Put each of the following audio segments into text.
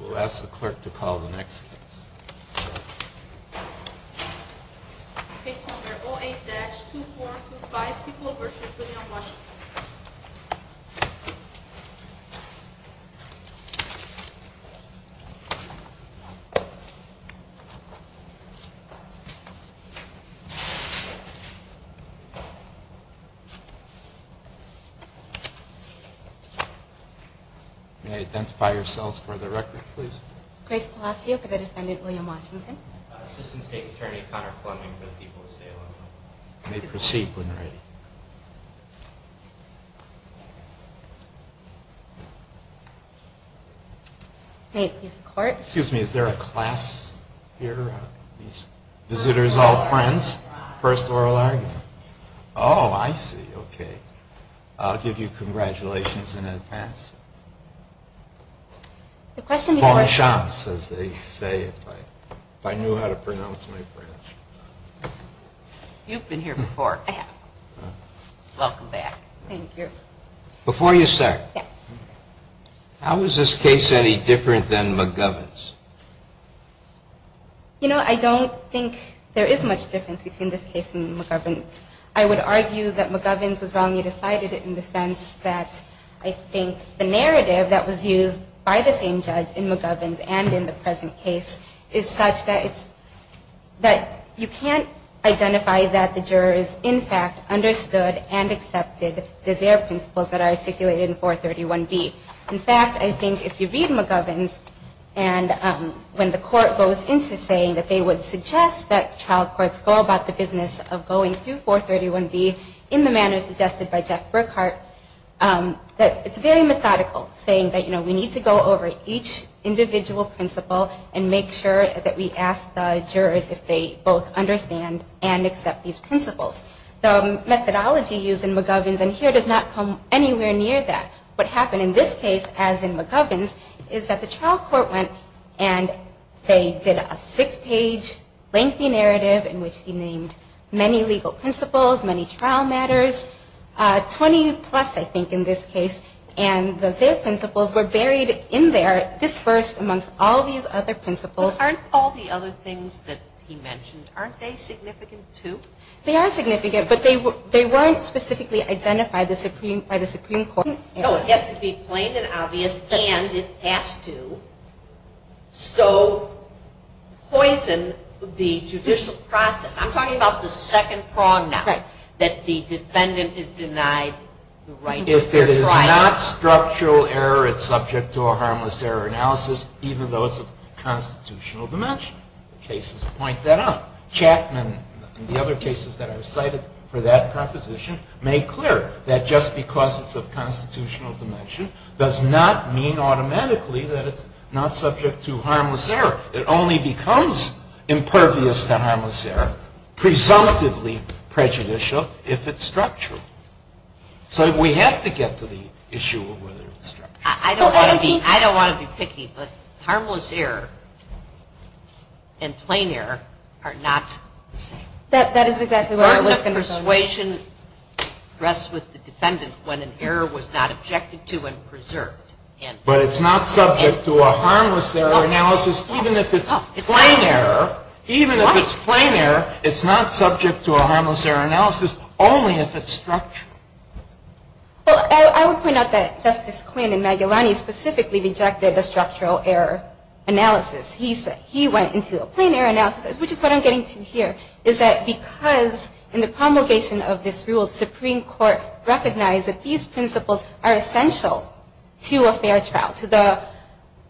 We'll ask the clerk to call the next case. Case number 08-2425, Peoples v. Williams v. Washington May I identify yourselves for the record, please? Grace Palacio for the defendant, William Washington Assistant State's Attorney, Connor Fleming for the people of Salem You may proceed when ready. Excuse me, is there a class here? Visitors, all friends, first oral argument. Oh, I see, okay. I'll give you congratulations in advance. Before you start, how is this case any different than McGovern's? You know, I don't think there is much difference between this case and McGovern's. I would argue that McGovern's was wrongly decided in the sense that, I think, the narrative that was used by the same judge in McGovern's and in the present case is such that you can't identify that the jurors, in fact, understood and accepted the Zaire principles that are articulated in 431B. In fact, I think if you read McGovern's and when the court goes into saying that they would suggest that trial courts go about the business of going through 431B in the manner suggested by Jeff Burkhart, that it's very methodical saying that, you know, we need to go over each individual principle and make sure that we ask the jurors if they both understand and accept these principles. The methodology used in McGovern's and here does not come anywhere near that. What happened in this case, as in McGovern's, is that the trial court went and they did a six-page lengthy narrative in which he named many legal principles, many trial matters, 20 plus, I think, in this case, and the Zaire principles were buried in there, dispersed amongst all these other principles. But aren't all the other things that he mentioned, aren't they significant, too? They are significant, but they weren't specifically identified by the Supreme Court. No, it has to be plain and obvious, and it has to so poison the judicial process. I'm talking about the second prong now. Right. That the defendant is denied the right to a fair trial. If it is not structural error, it's subject to a harmless error analysis, even though it's of constitutional dimension. The cases point that out. Chapman, in the other cases that are cited for that proposition, made clear that just because it's of constitutional dimension does not mean automatically that it's not subject to harmless error. It only becomes impervious to harmless error, presumptively prejudicial, if it's structural. So we have to get to the issue of whether it's structural. I don't want to be picky, but harmless error and plain error are not the same. That is exactly what I was going to say. The burden of persuasion rests with the defendant when an error was not objected to and preserved. But it's not subject to a harmless error analysis, even if it's plain error. Even if it's plain error, it's not subject to a harmless error analysis, only if it's structural. Well, I would point out that Justice Quinn and Magellani specifically rejected the structural error analysis. He went into a plain error analysis, which is what I'm getting to here, is that because in the promulgation of this rule, the Supreme Court recognized that these principles are essential to a fair trial. But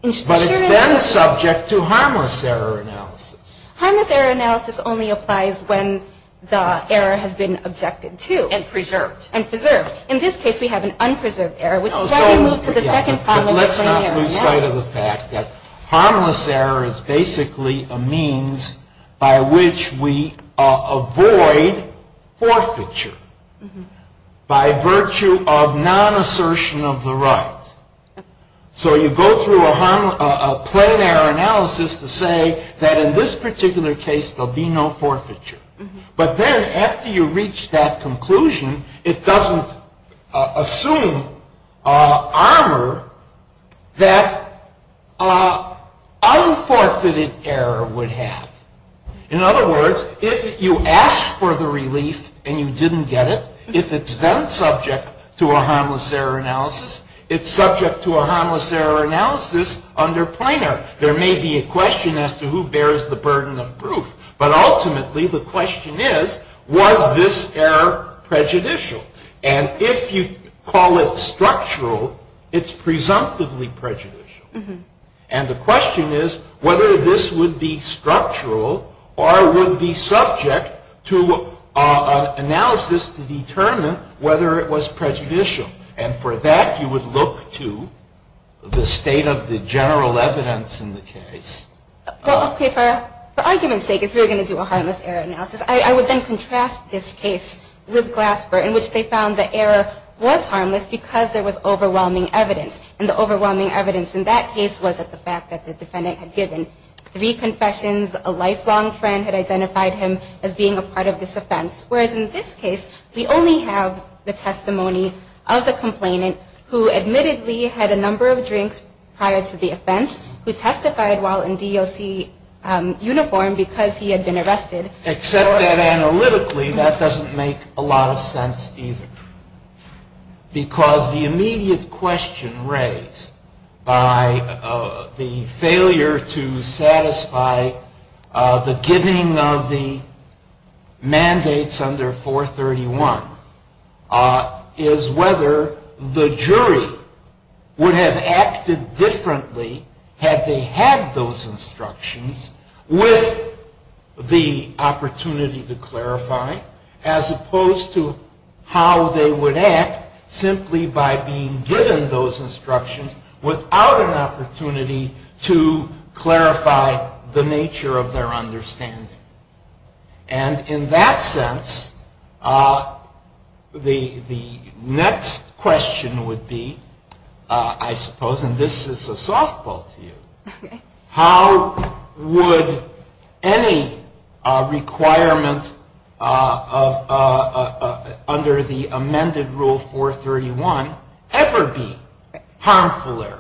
it's then subject to harmless error analysis. Harmless error analysis only applies when the error has been objected to. And preserved. And preserved. In this case, we have an unpreserved error, which is why we moved to the second harmless plain error analysis. harmless error is basically a means by which we avoid forfeiture. By virtue of non-assertion of the right. So you go through a plain error analysis to say that in this particular case, there will be no forfeiture. But then after you reach that conclusion, it doesn't assume armor that unforfeited error would have. In other words, if you asked for the relief and you didn't get it, if it's then subject to a harmless error analysis, it's subject to a harmless error analysis under plain error. There may be a question as to who bears the burden of proof. But ultimately, the question is, was this error prejudicial? And if you call it structural, it's presumptively prejudicial. And the question is whether this would be structural or would be subject to analysis to determine whether it was prejudicial. And for that, you would look to the state of the general evidence in the case. For argument's sake, if you were going to do a harmless error analysis, I would then contrast this case with Glasper, in which they found the error was harmless because there was overwhelming evidence. And the overwhelming evidence in that case was that the fact that the defendant had given three confessions, a lifelong friend had identified him as being a part of this offense. Whereas in this case, we only have the testimony of the complainant who admittedly had a number of drinks prior to the offense, who testified while in DOC uniform because he had been arrested. Except that analytically, that doesn't make a lot of sense either. Because the immediate question raised by the failure to satisfy the giving of the mandates under 431 is whether the jury would have acted differently had they had those instructions with the opportunity to clarify, as opposed to how they would act simply by being given those instructions without an opportunity to clarify the nature of their understanding. And in that sense, the next question would be, I suppose, and this is a softball to you, how would any requirement under the amended Rule 431 ever be harmful error?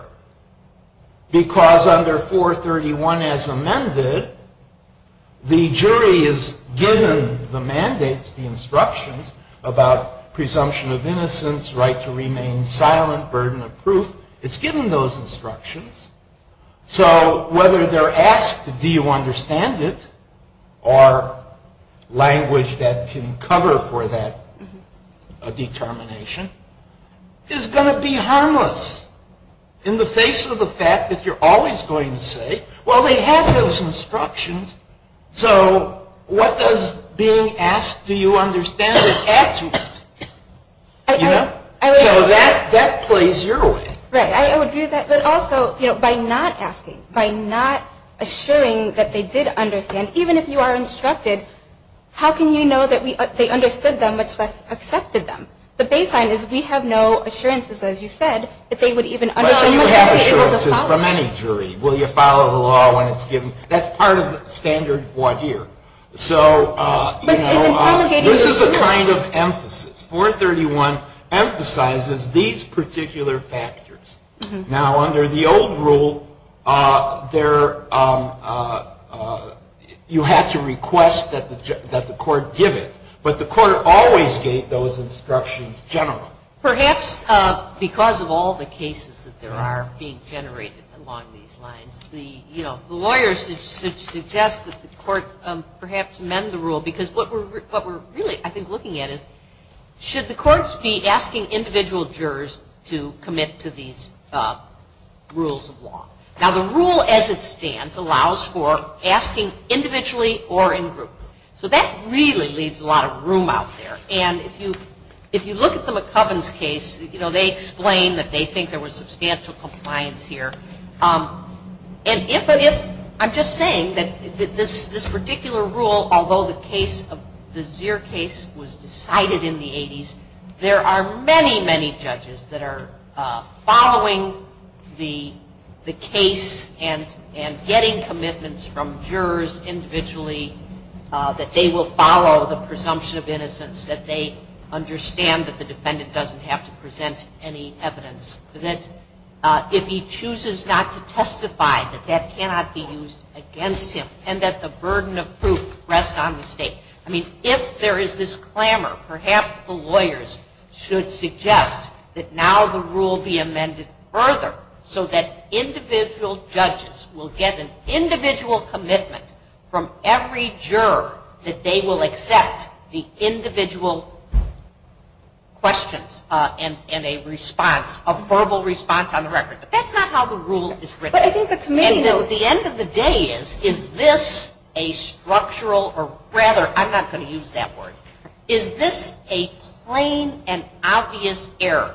Because under 431 as amended, the jury is given the mandates, the instructions, about presumption of innocence, right to remain silent, burden of proof. It's given those instructions. So whether they're asked, do you understand it, or language that can cover for that determination, is going to be harmless. In the face of the fact that you're always going to say, well, they have those instructions, so what does being asked, do you understand it, add to it? You know? So that plays your way. Right. I agree with that. But also, you know, by not asking, by not assuring that they did understand, even if you are instructed, how can you know that they understood them, much less accepted them? The baseline is we have no assurances, as you said, that they would even understand. Well, you have assurances from any jury. Will you follow the law when it's given? That's part of the standard voir dire. So, you know, this is a kind of emphasis. 431 emphasizes these particular factors. Now, under the old rule, you had to request that the court give it. But the court always gave those instructions generally. Perhaps because of all the cases that there are being generated along these lines, the lawyers should suggest that the court perhaps amend the rule, because what we're really, I think, looking at is, should the courts be asking individual jurors to commit to these rules of law? Now, the rule as it stands allows for asking individually or in group. So that really leaves a lot of room out there. And if you look at the McCovens case, you know, they explain that they think there was substantial compliance here. And if I'm just saying that this particular rule, although the Zier case was decided in the 80s, there are many, many judges that are following the case and getting commitments from jurors individually that they will follow the presumption of innocence, that they understand that the defendant doesn't have to present any evidence, that if he chooses not to testify, that that cannot be used against him, and that the burden of proof rests on the state. I mean, if there is this clamor, perhaps the lawyers should suggest that now the rule be amended further so that individual judges will get an individual commitment from every juror that they will accept the individual questions and a response, a verbal response on the record. But that's not how the rule is written. And at the end of the day is, is this a structural, or rather I'm not going to use that word, is this a plain and obvious error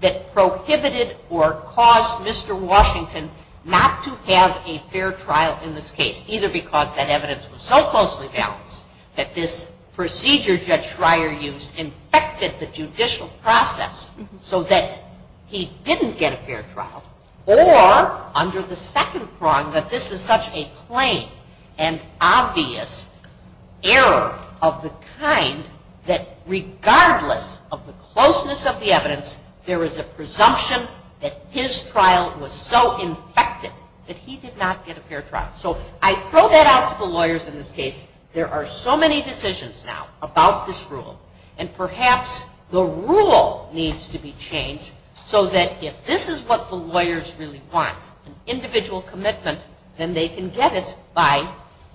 that prohibited or caused Mr. Washington not to have a fair trial in this case, either because that evidence was so closely balanced that this procedure Judge Schreier used infected the judicial process so that he didn't get a fair trial, or under the second prong that this is such a plain and obvious error of the kind that regardless of the closeness of the evidence, there is a presumption that his trial was so infected that he did not get a fair trial. So I throw that out to the lawyers in this case. There are so many decisions now about this rule, and perhaps the rule needs to be changed so that if this is what the lawyers really want, an individual commitment, then they can get it by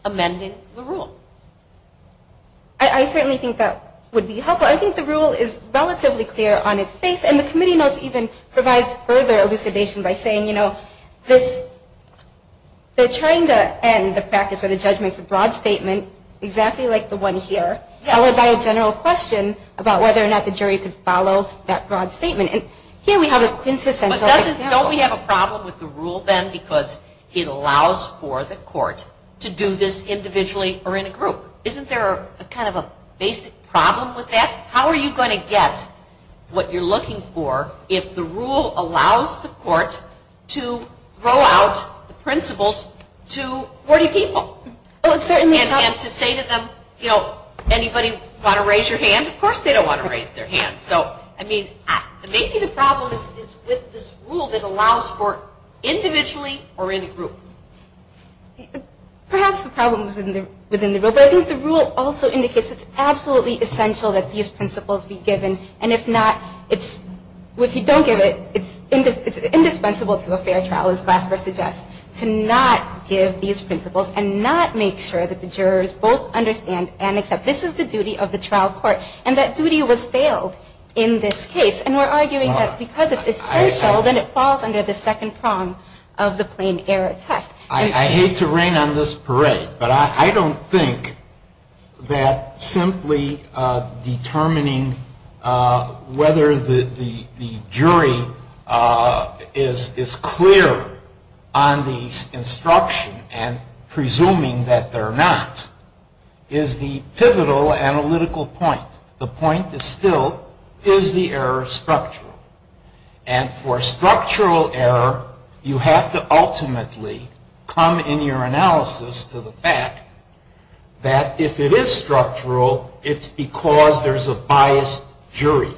amending the rule. I certainly think that would be helpful. I think the rule is relatively clear on its face, and the committee notes even provides further elucidation by saying, you know, this, they're trying to end the practice where the judge makes a broad statement exactly like the one here, followed by a general question about whether or not the jury could follow that broad statement. And here we have a quintessential example. What it does is don't we have a problem with the rule then because it allows for the court to do this individually or in a group. Isn't there kind of a basic problem with that? How are you going to get what you're looking for if the rule allows the court to throw out the principles to 40 people? And to say to them, you know, anybody want to raise your hand? Of course they don't want to raise their hand. So, I mean, maybe the problem is with this rule that allows for individually or in a group. Perhaps the problem is within the rule, but I think the rule also indicates it's absolutely essential that these principles be given. And if not, if you don't give it, it's indispensable to a fair trial, as Glasper suggests, to not give these principles and not make sure that the jurors both understand and accept this is the duty of the trial court. And that duty was failed in this case. And we're arguing that because it's essential, then it falls under the second prong of the plain error test. I hate to rain on this parade, but I don't think that simply determining whether the jury is clear on these instructions and presuming that they're not is the pivotal analytical point. The point is still, is the error structural? And for structural error, you have to ultimately come in your analysis to the fact that if it is structural, it's because there's a biased jury.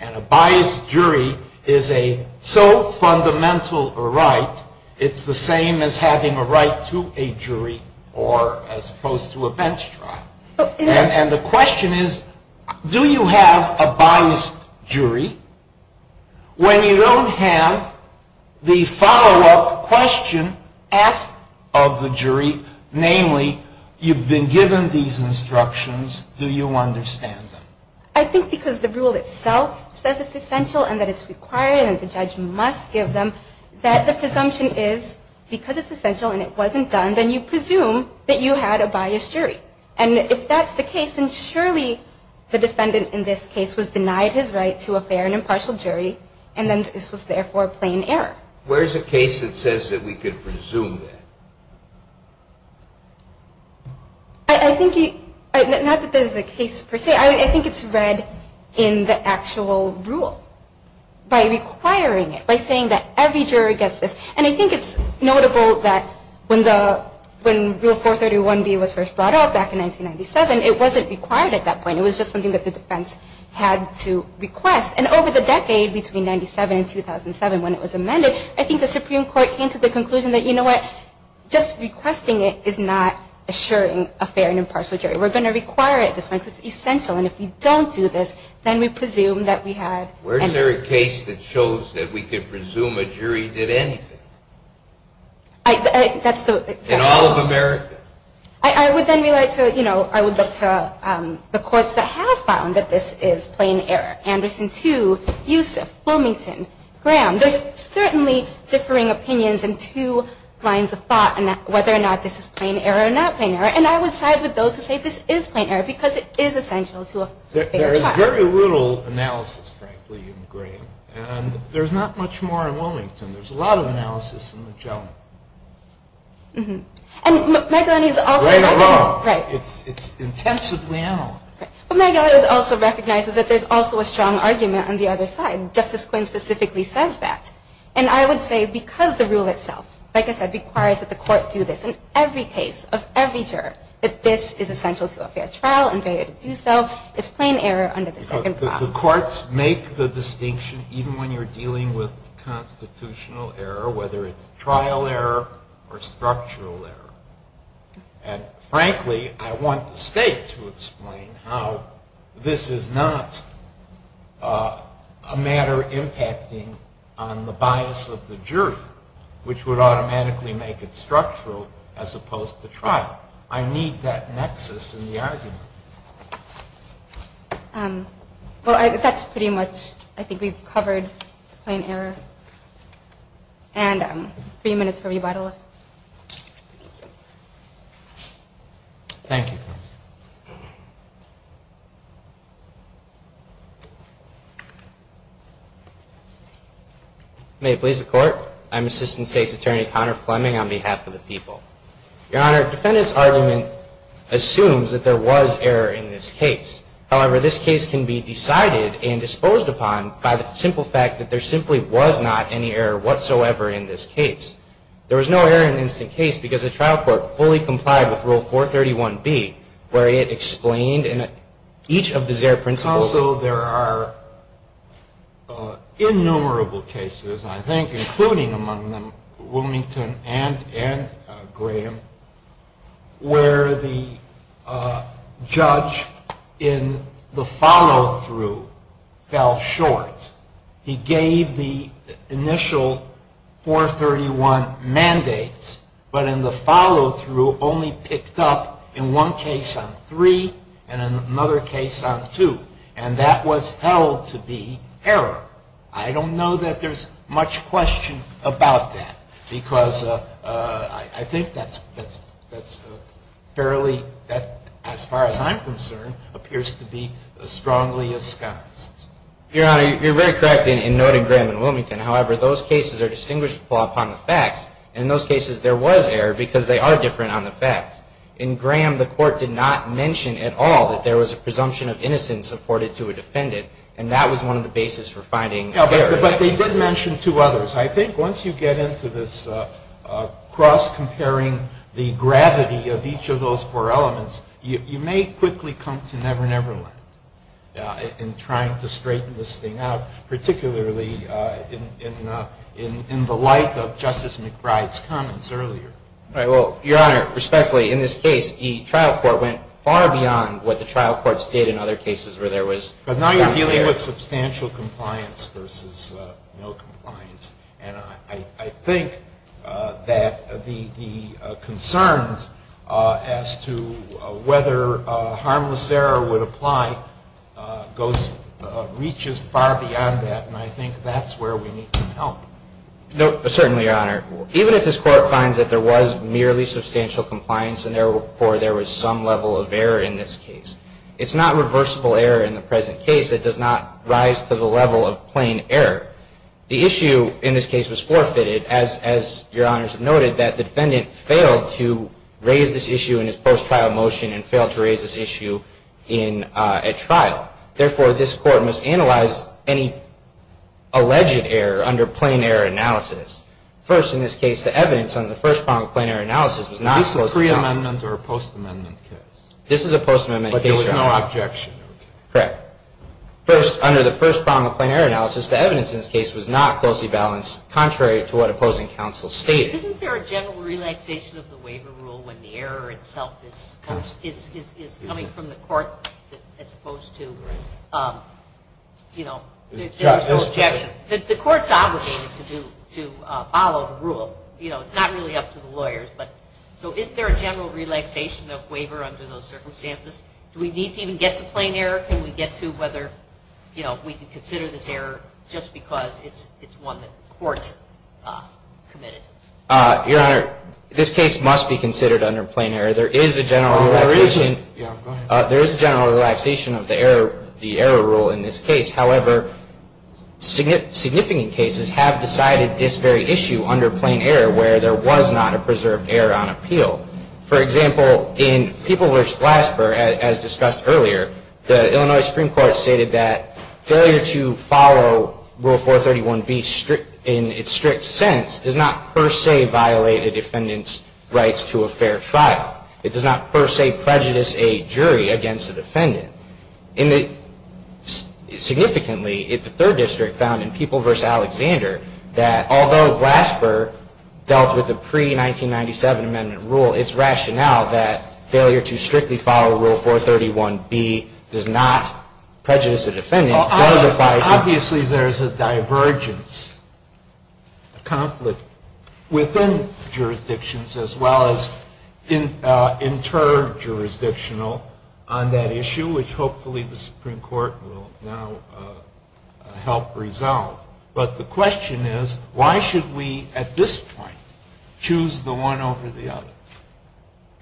And a biased jury is a so fundamental a right, it's the same as having a right to a jury or as opposed to a bench trial. And the question is, do you have a biased jury when you don't have the follow-up question asked of the jury, namely, you've been given these instructions, do you understand them? I think because the rule itself says it's essential and that it's required and the judge must give them, that the presumption is because it's essential and it wasn't done, then you presume that you had a biased jury. And if that's the case, then surely the defendant in this case was denied his right to a fair and impartial jury, and then this was therefore a plain error. Where's a case that says that we could presume that? I think, not that there's a case per se, I think it's read in the actual rule by requiring it, by saying that every jury gets this. And I think it's notable that when Rule 431B was first brought up back in 1997, it wasn't required at that point, it was just something that the defense had to request. And over the decade between 1997 and 2007 when it was amended, I think the Supreme Court came to the conclusion that, you know what, just requesting it is not assuring a fair and impartial jury. We're going to require it at this point because it's essential, and if we don't do this, then we presume that we had. Where's there a case that shows that we could presume a jury did anything? In all of America. I would then relate to, you know, I would look to the courts that have found that this is plain error, Anderson 2, Yusuf, Bloomington, Graham. There's certainly differing opinions and two lines of thought on whether or not this is plain error or not plain error, and I would side with those who say this is plain error because it is essential to a fair trial. There is very little analysis, frankly, in Graham, and there's not much more in Bloomington. There's a lot of analysis in the gentleman. Mm-hmm. Right or wrong. Right. It's intensively analyzed. Okay. But Megilly also recognizes that there's also a strong argument on the other side. Justice Quinn specifically says that. And I would say because the rule itself, like I said, requires that the court do this in every case of every juror, that this is essential to a fair trial and failure to do so is plain error under the second clause. The courts make the distinction, even when you're dealing with constitutional error, whether it's trial error or structural error. And, frankly, I want the state to explain how this is not a matter impacting on the bias of the jury, which would automatically make it structural as opposed to trial. I need that nexus in the argument. Well, that's pretty much, I think, we've covered plain error. And three minutes for rebuttal. Thank you. May it please the Court. I'm Assistant State's Attorney Connor Fleming on behalf of the people. Your Honor, the defendant's argument assumes that there was error in this case. However, this case can be decided and disposed upon by the simple fact that there simply was not any error whatsoever in this case. There was no error in this case because the trial court fully complied with Rule 431B, where it explained in each of the Zare principles. Also, there are innumerable cases, I think, including among them Wilmington and Graham, where the judge in the follow-through fell short. He gave the initial 431 mandates, but in the follow-through only picked up in one case on 3 and in another case on 2. And that was held to be error. I don't know that there's much question about that, because I think that's fairly, as far as I'm concerned, appears to be strongly asked. Your Honor, you're very correct in noting Graham and Wilmington. However, those cases are distinguishable upon the facts, and in those cases there was error because they are different on the facts. In Graham, the Court did not mention at all that there was a presumption of innocence afforded to a defendant, and that was one of the bases for finding error. But they did mention two others. I think once you get into this cross-comparing the gravity of each of those four elements, you may quickly come to never-never land in trying to straighten this thing out, particularly in the light of Justice McBride's comments earlier. Your Honor, respectfully, in this case, the trial court went far beyond what the trial courts did in other cases where there was unfair. But now you're dealing with substantial compliance versus no compliance. And I think that the concerns as to whether harmless error would apply reaches far beyond that, and I think that's where we need some help. Certainly, Your Honor. Even if this Court finds that there was merely substantial compliance and therefore there was some level of error in this case, it's not reversible error in the present case. It does not rise to the level of plain error. The issue in this case was forfeited, as Your Honors have noted, that the defendant failed to raise this issue in his post-trial motion and failed to raise this issue at trial. Therefore, this Court must analyze any alleged error under plain error analysis. First, in this case, the evidence on the first prong of plain error analysis was not supposed to count. Is this a pre-amendment or a post-amendment case? This is a post-amendment case, Your Honor. But there was no objection? Correct. First, under the first prong of plain error analysis, the evidence in this case was not closely balanced contrary to what opposing counsel stated. Isn't there a general relaxation of the waiver rule when the error itself is coming from the court as opposed to, you know, the court's obligation to follow the rule? You know, it's not really up to the lawyers. So is there a general relaxation of waiver under those circumstances? Do we need to even get to plain error? Can we get to whether, you know, we can consider this error just because it's one that the court committed? Your Honor, this case must be considered under plain error. There is a general relaxation of the error rule in this case. However, significant cases have decided this very issue under plain error where there was not a preserved error on appeal. For example, in People v. Glasper, as discussed earlier, the Illinois Supreme Court stated that failure to follow Rule 431B in its strict sense does not per se violate a defendant's rights to a fair trial. It does not per se prejudice a jury against a defendant. Significantly, the Third District found in People v. Alexander that although Glasper dealt with the pre-1997 Amendment rule, its rationale that failure to strictly follow Rule 431B does not prejudice a defendant does advise a defendant. Obviously, there's a divergence, a conflict within jurisdictions as well as inter-jurisdictional on that issue, which hopefully the Supreme Court will now help resolve. But the question is, why should we at this point choose the one over the other?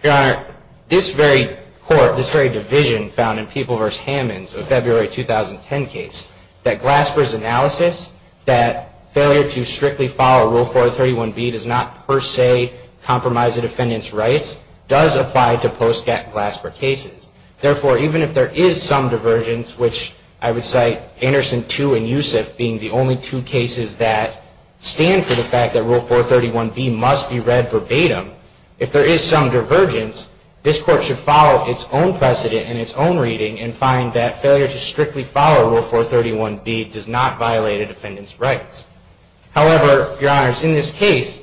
Your Honor, this very court, this very division found in People v. Hammonds of February 2010 case, that Glasper's analysis that failure to strictly follow Rule 431B does not per se compromise a defendant's rights does apply to post-Glasper cases. Therefore, even if there is some divergence, which I would cite Anderson 2 and Yusuf being the only two cases that stand for the fact that Rule 431B must be read verbatim, if there is some divergence, this court should follow its own precedent and its own reading and find that failure to strictly follow Rule 431B does not violate a defendant's rights. However, Your Honors, in this case,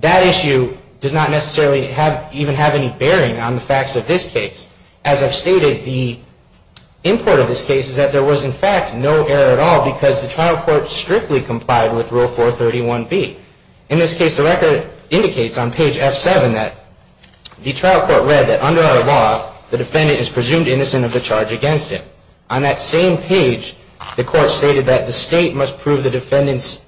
that issue does not necessarily even have any bearing on the facts of this case. As I've stated, the import of this case is that there was in fact no error at all because the trial court strictly complied with Rule 431B. In this case, the record indicates on page F7 that the trial court read that under our law, the defendant is presumed innocent of the charge against him. On that same page, the court stated that the State must prove the defendant's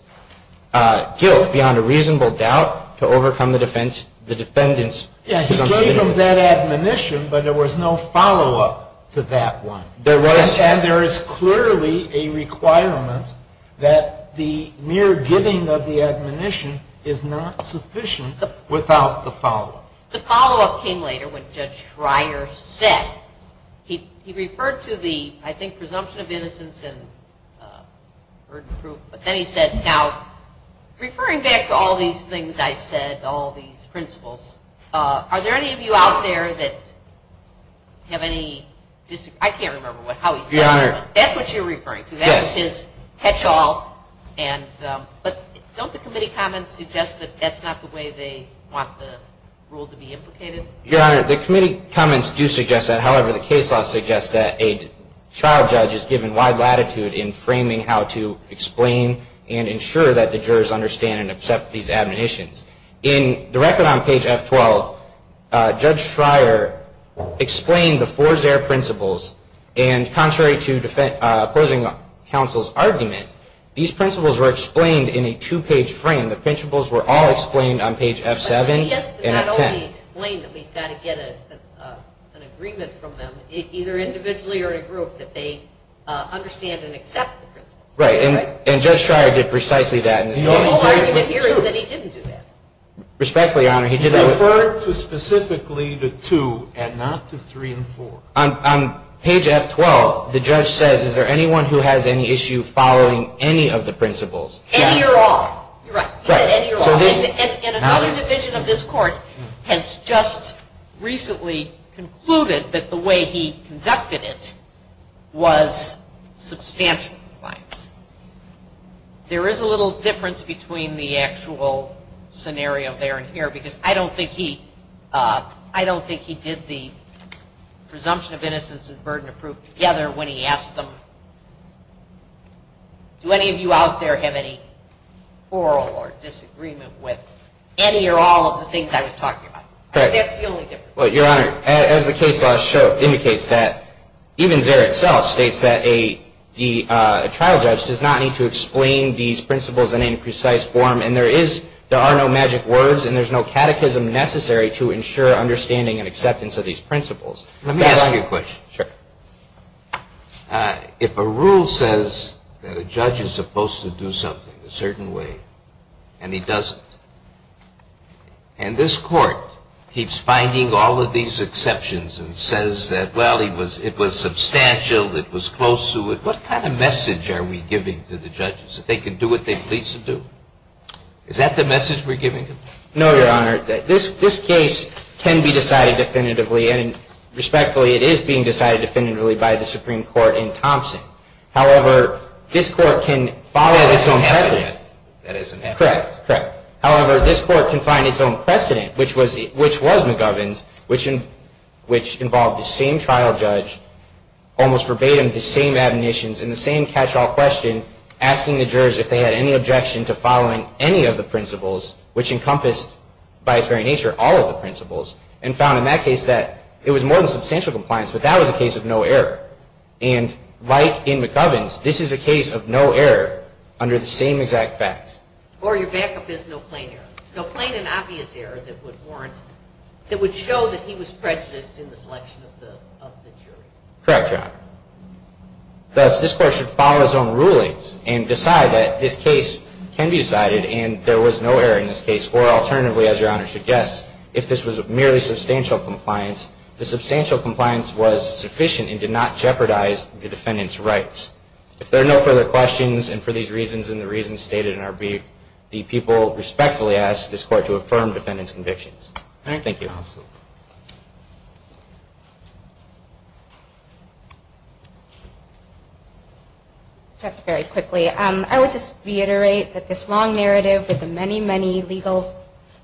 guilt beyond a reasonable doubt to overcome the defendant's presumption. He gave them that admonition, but there was no follow-up to that one. There was. And there is clearly a requirement that the mere giving of the admonition is not sufficient without the follow-up. The follow-up came later when Judge Schreier said, he referred to the, I think, presumption of innocence and burden of proof. But then he said, now, referring back to all these things I said, all these principles, are there any of you out there that have any, I can't remember how he said it. That's what you're referring to. Yes. That's his catch-all. But don't the committee comments suggest that that's not the way they want the rule to be implicated? Your Honor, the committee comments do suggest that. However, the case law suggests that a trial judge is given wide latitude in framing how to explain and ensure that the jurors understand and accept these admonitions. In the record on page F12, Judge Schreier explained the four Zaire principles. And contrary to opposing counsel's argument, these principles were explained in a two-page frame. The principles were all explained on page F7 and F10. But I guess to not only explain them, he's got to get an agreement from them, either individually or in a group, that they understand and accept the principles. Right. And Judge Schreier did precisely that in this case. The whole argument here is that he didn't do that. Respectfully, Your Honor, he did not. He referred specifically to two and not to three and four. On page F12, the judge says, Is there anyone who has any issue following any of the principles? Any or all. You're right. He said any or all. And another division of this court has just recently concluded that the way he conducted it was substantial. There is a little difference between the actual scenario there and here because I don't think he did the presumption of innocence and burden of proof together when he asked them, Do any of you out there have any quarrel or disagreement with any or all of the things I was talking about? Correct. That's the only difference. Well, Your Honor, as the case law indicates that, even Zaire itself states that a trial judge does not need to explain these principles in any precise form. And there are no magic words and there's no catechism necessary to ensure understanding and acceptance of these principles. Let me ask you a question. Sure. If a rule says that a judge is supposed to do something a certain way and he doesn't, and this court keeps finding all of these exceptions and says that, well, it was substantial, it was close to it, what kind of message are we giving to the judges that they can do what they please to do? Is that the message we're giving them? No, Your Honor. This case can be decided definitively, and respectfully, it is being decided definitively by the Supreme Court in Thompson. However, this court can follow its own precedent. That is inaccurate. Correct, correct. However, this court can find its own precedent, which was McGovern's, which involved the same trial judge, almost verbatim, the same admonitions and the same catch-all question, asking the jurors if they had any objection to following any of the principles, which encompassed, by its very nature, all of the principles, and found in that case that it was more than substantial compliance, but that was a case of no error. And like in McGovern's, this is a case of no error under the same exact facts. Or your backup is no plain error. It would show that he was prejudiced in the selection of the jury. Correct, Your Honor. Thus, this court should follow its own rulings and decide that this case can be decided and there was no error in this case, or alternatively, as Your Honor suggests, if this was merely substantial compliance, the substantial compliance was sufficient and did not jeopardize the defendant's rights. If there are no further questions, and for these reasons and the reasons stated in our brief, the people respectfully ask this court to affirm defendant's convictions. Thank you. Absolutely. Just very quickly, I would just reiterate that this long narrative with the many, many legal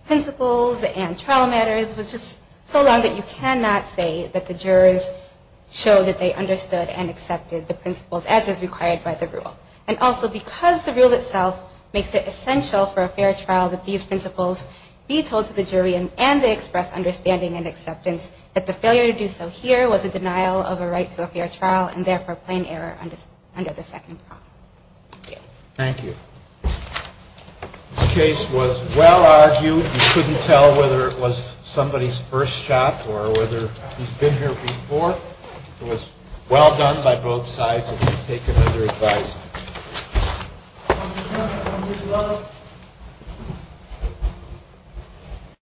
principles and trial matters was just so long that you cannot say that the jurors showed that they understood and accepted the principles as is required by the rule. And also because the rule itself makes it essential for a fair trial that these principles be told to the jury and they express understanding and acceptance that the failure to do so here was a denial of a right to a fair trial and therefore plain error under the second prompt. Thank you. This case was well argued. You couldn't tell whether it was somebody's first shot or whether he's been here before. It was well done by both sides. Thank you, counsel. We take it under advice.